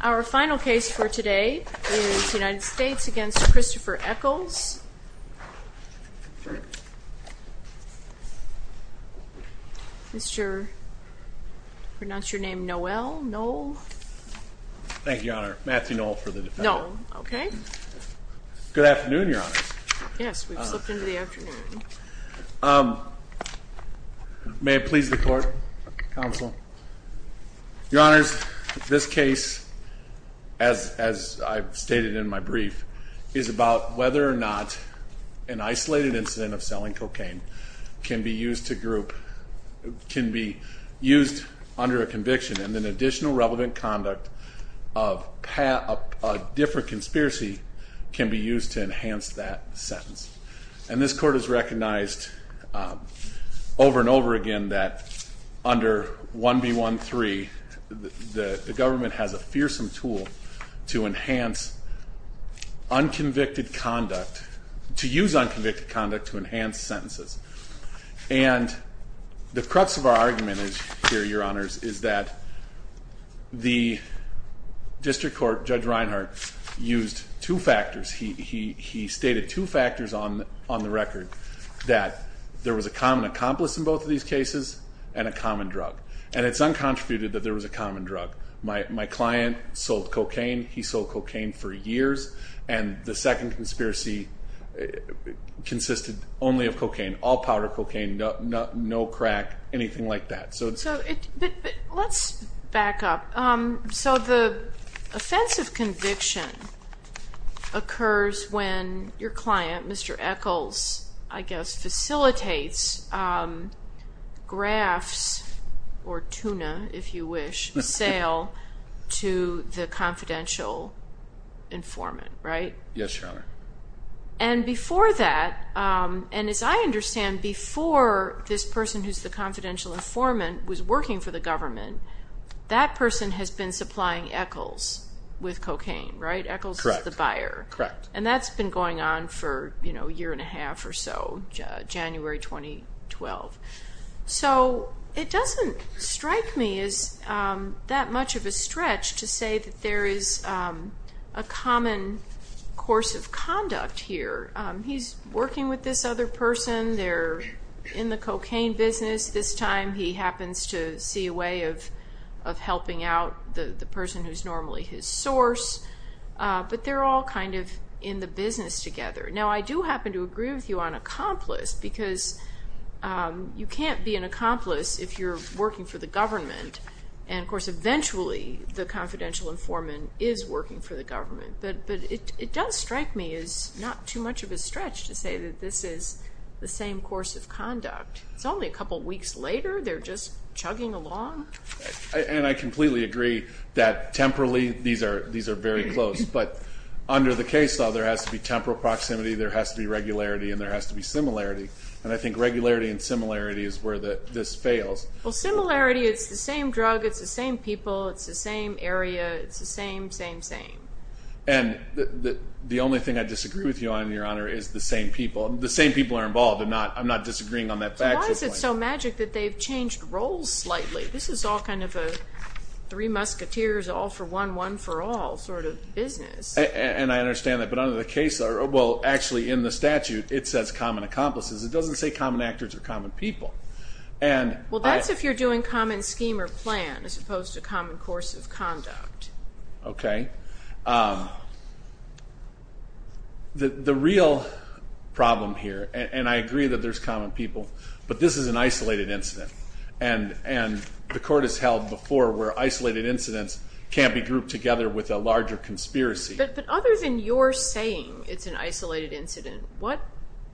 Our final case for today is United States v. Christopher Eccles. Mr., pronounce your name, Noel? Noel. Thank you, Your Honor. Matthew Noel for the defense. Noel. Okay. Good afternoon, Your Honors. Yes, we've slipped into the afternoon. May it please the Court, Counsel. Your Honors, this case, as I've stated in my brief, is about whether or not an isolated incident of selling cocaine can be used under a conviction and an additional relevant conduct of a different conspiracy can be used to enhance that sentence. And this Court has recognized over and over again that under 1B13, the government has a fearsome tool to enhance unconvicted conduct, to use unconvicted conduct to enhance sentences. And the crux of our argument here, Your Honors, is that the district court, Judge Reinhart, used two factors. He stated two factors on the record, that there was a common accomplice in both of these cases and a common drug. And it's uncontributed that there was a common drug. My client sold cocaine. He sold cocaine for years. And the second conspiracy consisted only of cocaine, all powder cocaine, no crack, anything like that. So let's back up. So the offensive conviction occurs when your client, Mr. Eccles, I guess, facilitates grafts or tuna, if you wish, sale to the confidential informant, right? Yes, Your Honor. And before that, and as I understand, before this person who's the confidential informant was working for the government, that person has been supplying Eccles with cocaine, right? Eccles is the buyer. Correct. And that's been going on for a year and a half or so, January 2012. So it doesn't strike me as that much of a stretch to say that there is a common course of conduct here. He's working with this other person. They're in the cocaine business. This time he happens to see a way of helping out the person who's normally his source. But they're all kind of in the business together. Now, I do happen to agree with you on accomplice because you can't be an accomplice if you're working for the government. And, of course, eventually the confidential informant is working for the government. But it does strike me as not too much of a stretch to say that this is the same course of conduct. It's only a couple weeks later. They're just chugging along. And I completely agree that temporally these are very close. But under the case law, there has to be temporal proximity, there has to be regularity, and there has to be similarity. And I think regularity and similarity is where this fails. Well, similarity, it's the same drug, it's the same people, it's the same area, it's the same, same, same. And the only thing I disagree with you on, Your Honor, is the same people. The same people are involved. I'm not disagreeing on that factual point. It seems so magic that they've changed roles slightly. This is all kind of a three musketeers, all for one, one for all sort of business. And I understand that. But under the case law, well, actually in the statute, it says common accomplices. It doesn't say common actors or common people. Well, that's if you're doing common scheme or plan as opposed to common course of conduct. Okay. The real problem here, and I agree that there's common people, but this is an isolated incident. And the court has held before where isolated incidents can be grouped together with a larger conspiracy. But other than your saying it's an isolated incident, what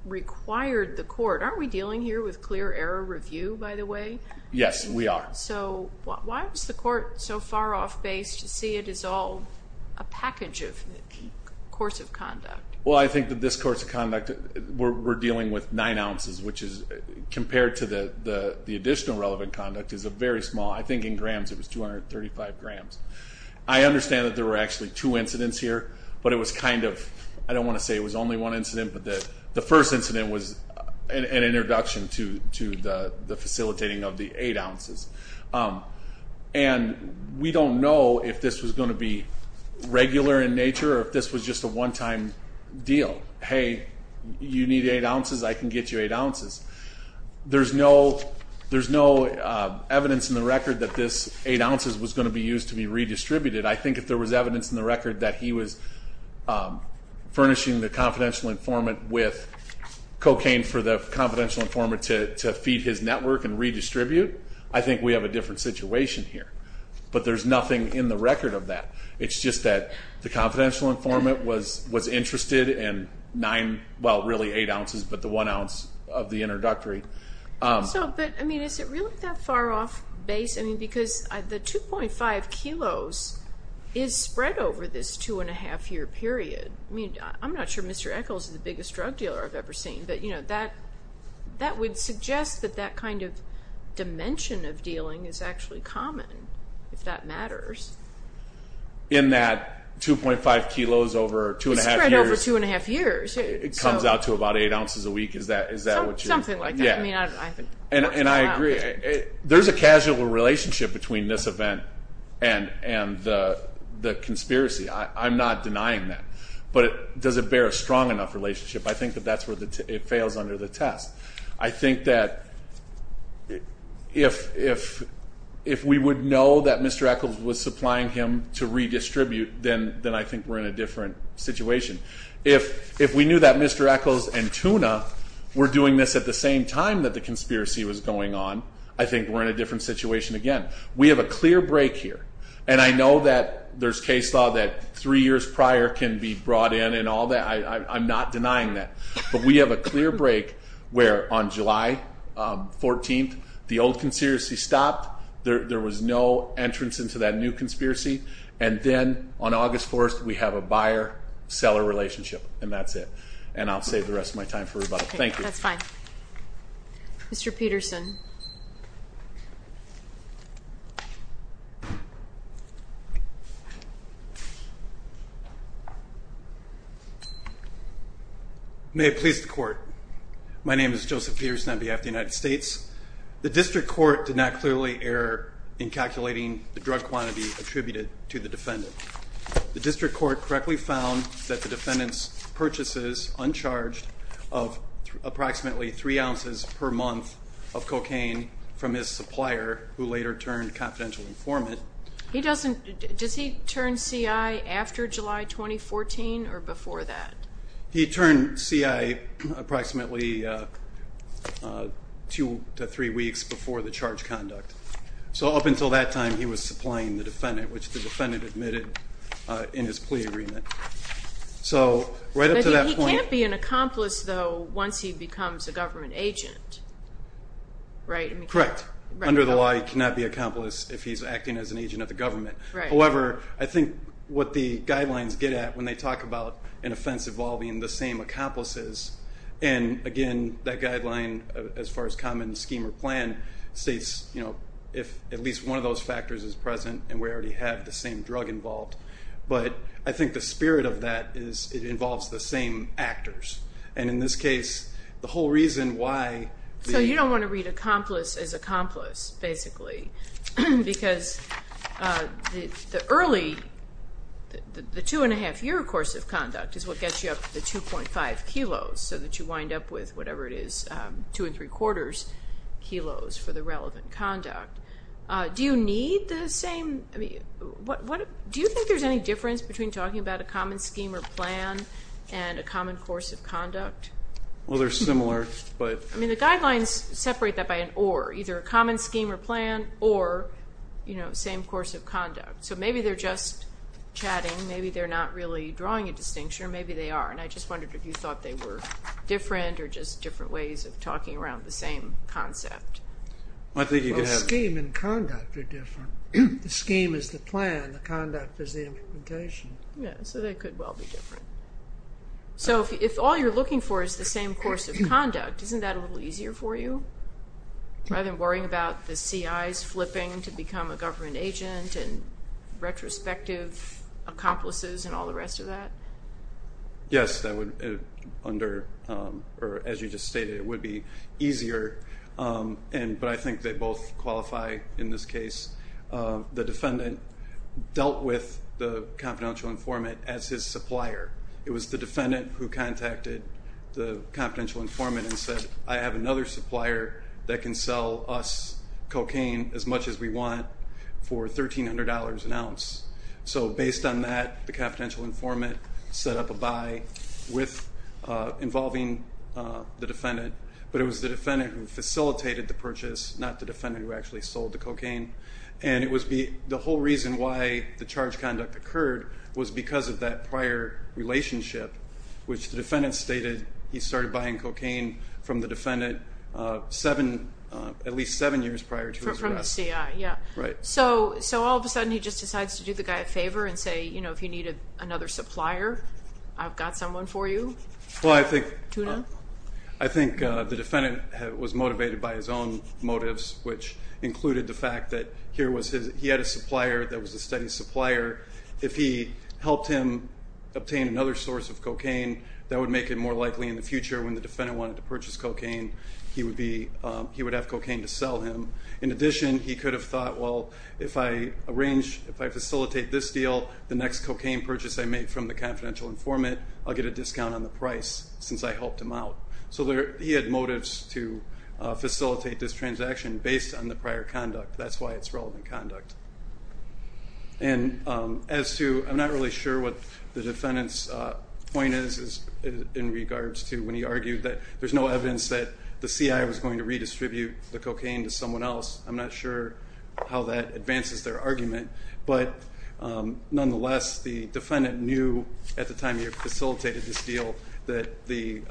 required the court? Aren't we dealing here with clear error review, by the way? Yes, we are. So why was the court so far off base to see it as all a package of course of conduct? Well, I think that this course of conduct, we're dealing with nine ounces, which is compared to the additional relevant conduct is very small. I think in grams it was 235 grams. I understand that there were actually two incidents here, but it was kind of, I don't want to say it was only one incident, but the first incident was an introduction to the facilitating of the eight ounces. And we don't know if this was going to be regular in nature or if this was just a one-time deal. Hey, you need eight ounces, I can get you eight ounces. There's no evidence in the record that this eight ounces was going to be used to be redistributed. I think if there was evidence in the record that he was furnishing the confidential informant with cocaine for the confidential informant to feed his network and redistribute, I think we have a different situation here. But there's nothing in the record of that. It's just that the confidential informant was interested in nine, well, really eight ounces, but the one ounce of the introductory. So, but, I mean, is it really that far off base? I mean, because the 2.5 kilos is spread over this two-and-a-half-year period. I mean, I'm not sure Mr. Echols is the biggest drug dealer I've ever seen, but that would suggest that that kind of dimension of dealing is actually common, if that matters. In that 2.5 kilos over two-and-a-half years. It's spread over two-and-a-half years. It comes out to about eight ounces a week. Is that what you're? Something like that. And I agree. There's a casual relationship between this event and the conspiracy. I'm not denying that. But does it bear a strong enough relationship? I think that that's where it fails under the test. I think that if we would know that Mr. Echols was supplying him to redistribute, then I think we're in a different situation. If we knew that Mr. Echols and Tuna were doing this at the same time that the conspiracy was going on, I think we're in a different situation again. We have a clear break here. And I know that there's case law that three years prior can be brought in and all that. I'm not denying that. But we have a clear break where on July 14th the old conspiracy stopped. There was no entrance into that new conspiracy. And then on August 4th we have a buyer-seller relationship. And that's it. And I'll save the rest of my time for rebuttal. Thank you. That's fine. Mr. Peterson. May it please the Court. My name is Joseph Peterson on behalf of the United States. The district court did not clearly err in calculating the drug quantity attributed to the defendant. The district court correctly found that the defendant's purchases, uncharged, of approximately three ounces per month of cocaine from his supplier, who later turned confidential informant. Does he turn C.I. after July 2014 or before that? He turned C.I. approximately two to three weeks before the charge conduct. So up until that time he was supplying the defendant, which the defendant admitted in his plea agreement. He can't be an accomplice, though, once he becomes a government agent, right? Correct. Under the law he cannot be an accomplice if he's acting as an agent of the government. However, I think what the guidelines get at when they talk about an offense involving the same accomplices, and, again, that guideline, as far as common scheme or plan, states if at least one of those factors is present and we already have the same drug involved. But I think the spirit of that is it involves the same actors. And in this case, the whole reason why the- because the early, the two-and-a-half-year course of conduct is what gets you up to the 2.5 kilos so that you wind up with whatever it is, two-and-three-quarters kilos for the relevant conduct. Do you need the same? Do you think there's any difference between talking about a common scheme or plan and a common course of conduct? Well, they're similar, but- I mean, the guidelines separate that by an or. Either a common scheme or plan or, you know, same course of conduct. So maybe they're just chatting. Maybe they're not really drawing a distinction, or maybe they are. And I just wondered if you thought they were different or just different ways of talking around the same concept. I think you could have- Well, scheme and conduct are different. The scheme is the plan. The conduct is the implementation. Yeah, so they could well be different. So if all you're looking for is the same course of conduct, isn't that a little easier for you? Rather than worrying about the CIs flipping to become a government agent and retrospective accomplices and all the rest of that? Yes, that would, under, or as you just stated, it would be easier. But I think they both qualify in this case. The defendant dealt with the confidential informant as his supplier. It was the defendant who contacted the confidential informant and said, I have another supplier that can sell us cocaine as much as we want for $1,300 an ounce. So based on that, the confidential informant set up a buy involving the defendant. But it was the defendant who facilitated the purchase, not the defendant who actually sold the cocaine. And the whole reason why the charge conduct occurred was because of that prior relationship, which the defendant stated he started buying cocaine from the defendant at least seven years prior to his arrest. From the CI, yeah. Right. So all of a sudden he just decides to do the guy a favor and say, you know, if you need another supplier, I've got someone for you. Well, I think the defendant was motivated by his own motives, which included the fact that he had a supplier that was a steady supplier. If he helped him obtain another source of cocaine, that would make it more likely in the future when the defendant wanted to purchase cocaine, he would have cocaine to sell him. In addition, he could have thought, well, if I arrange, if I facilitate this deal, the next cocaine purchase I make from the confidential informant, I'll get a discount on the price since I helped him out. So he had motives to facilitate this transaction based on the prior conduct. That's why it's relevant conduct. And as to, I'm not really sure what the defendant's point is, in regards to when he argued that there's no evidence that the CI was going to redistribute the cocaine to someone else. I'm not sure how that advances their argument. But nonetheless, the defendant knew at the time he had facilitated this deal that the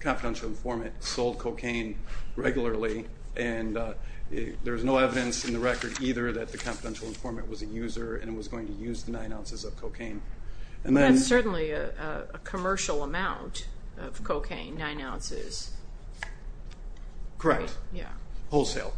confidential informant sold cocaine regularly, and there's no evidence in the record either that the confidential informant was a user and was going to use the nine ounces of cocaine. That's certainly a commercial amount of cocaine, nine ounces. Correct. Wholesale.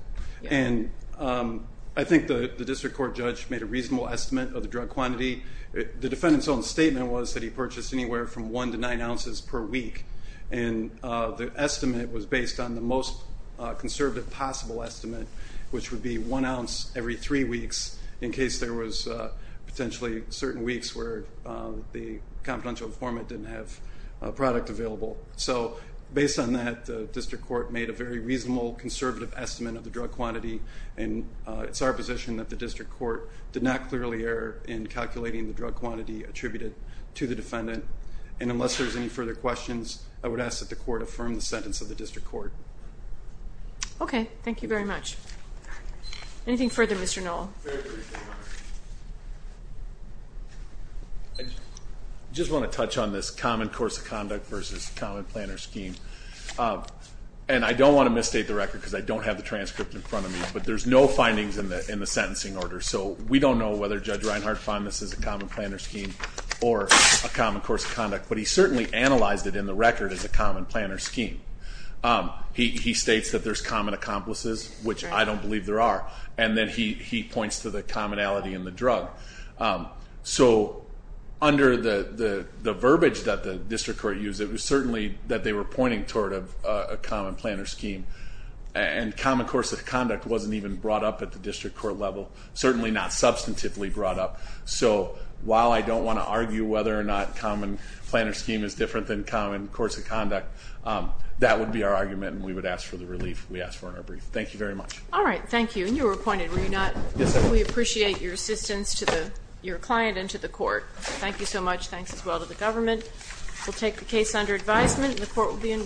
And I think the district court judge made a reasonable estimate of the drug quantity. The defendant's own statement was that he purchased anywhere from one to nine ounces per week, and the estimate was based on the most conservative possible estimate, which would be one ounce every three weeks in case there was potentially certain weeks where the confidential informant didn't have a product available. So based on that, the district court made a very reasonable, conservative estimate of the drug quantity, and it's our position that the district court did not clearly err in calculating the drug quantity attributed to the defendant. And unless there's any further questions, I would ask that the court affirm the sentence of the district court. Okay. Thank you very much. Anything further, Mr. Noll? I just want to touch on this common course of conduct versus common planner scheme, and I don't want to misstate the record because I don't have the transcript in front of me, but there's no findings in the sentencing order, so we don't know whether Judge Reinhart found this as a common planner scheme or a common course of conduct, but he certainly analyzed it in the record as a common planner scheme. He states that there's common accomplices, which I don't believe there are, and then he points to the commonality in the drug. So under the verbiage that the district court used, it was certainly that they were pointing toward a common planner scheme, and common course of conduct wasn't even brought up at the district court level, certainly not substantively brought up. So while I don't want to argue whether or not common planner scheme is different than common course of conduct, that would be our argument, and we would ask for the relief we asked for in our brief. Thank you very much. All right, thank you. And you were appointed, were you not? Yes, I was. We appreciate your assistance to your client and to the court. Thank you so much. Thanks as well to the government. We'll take the case under advisement, and the court will be in recess.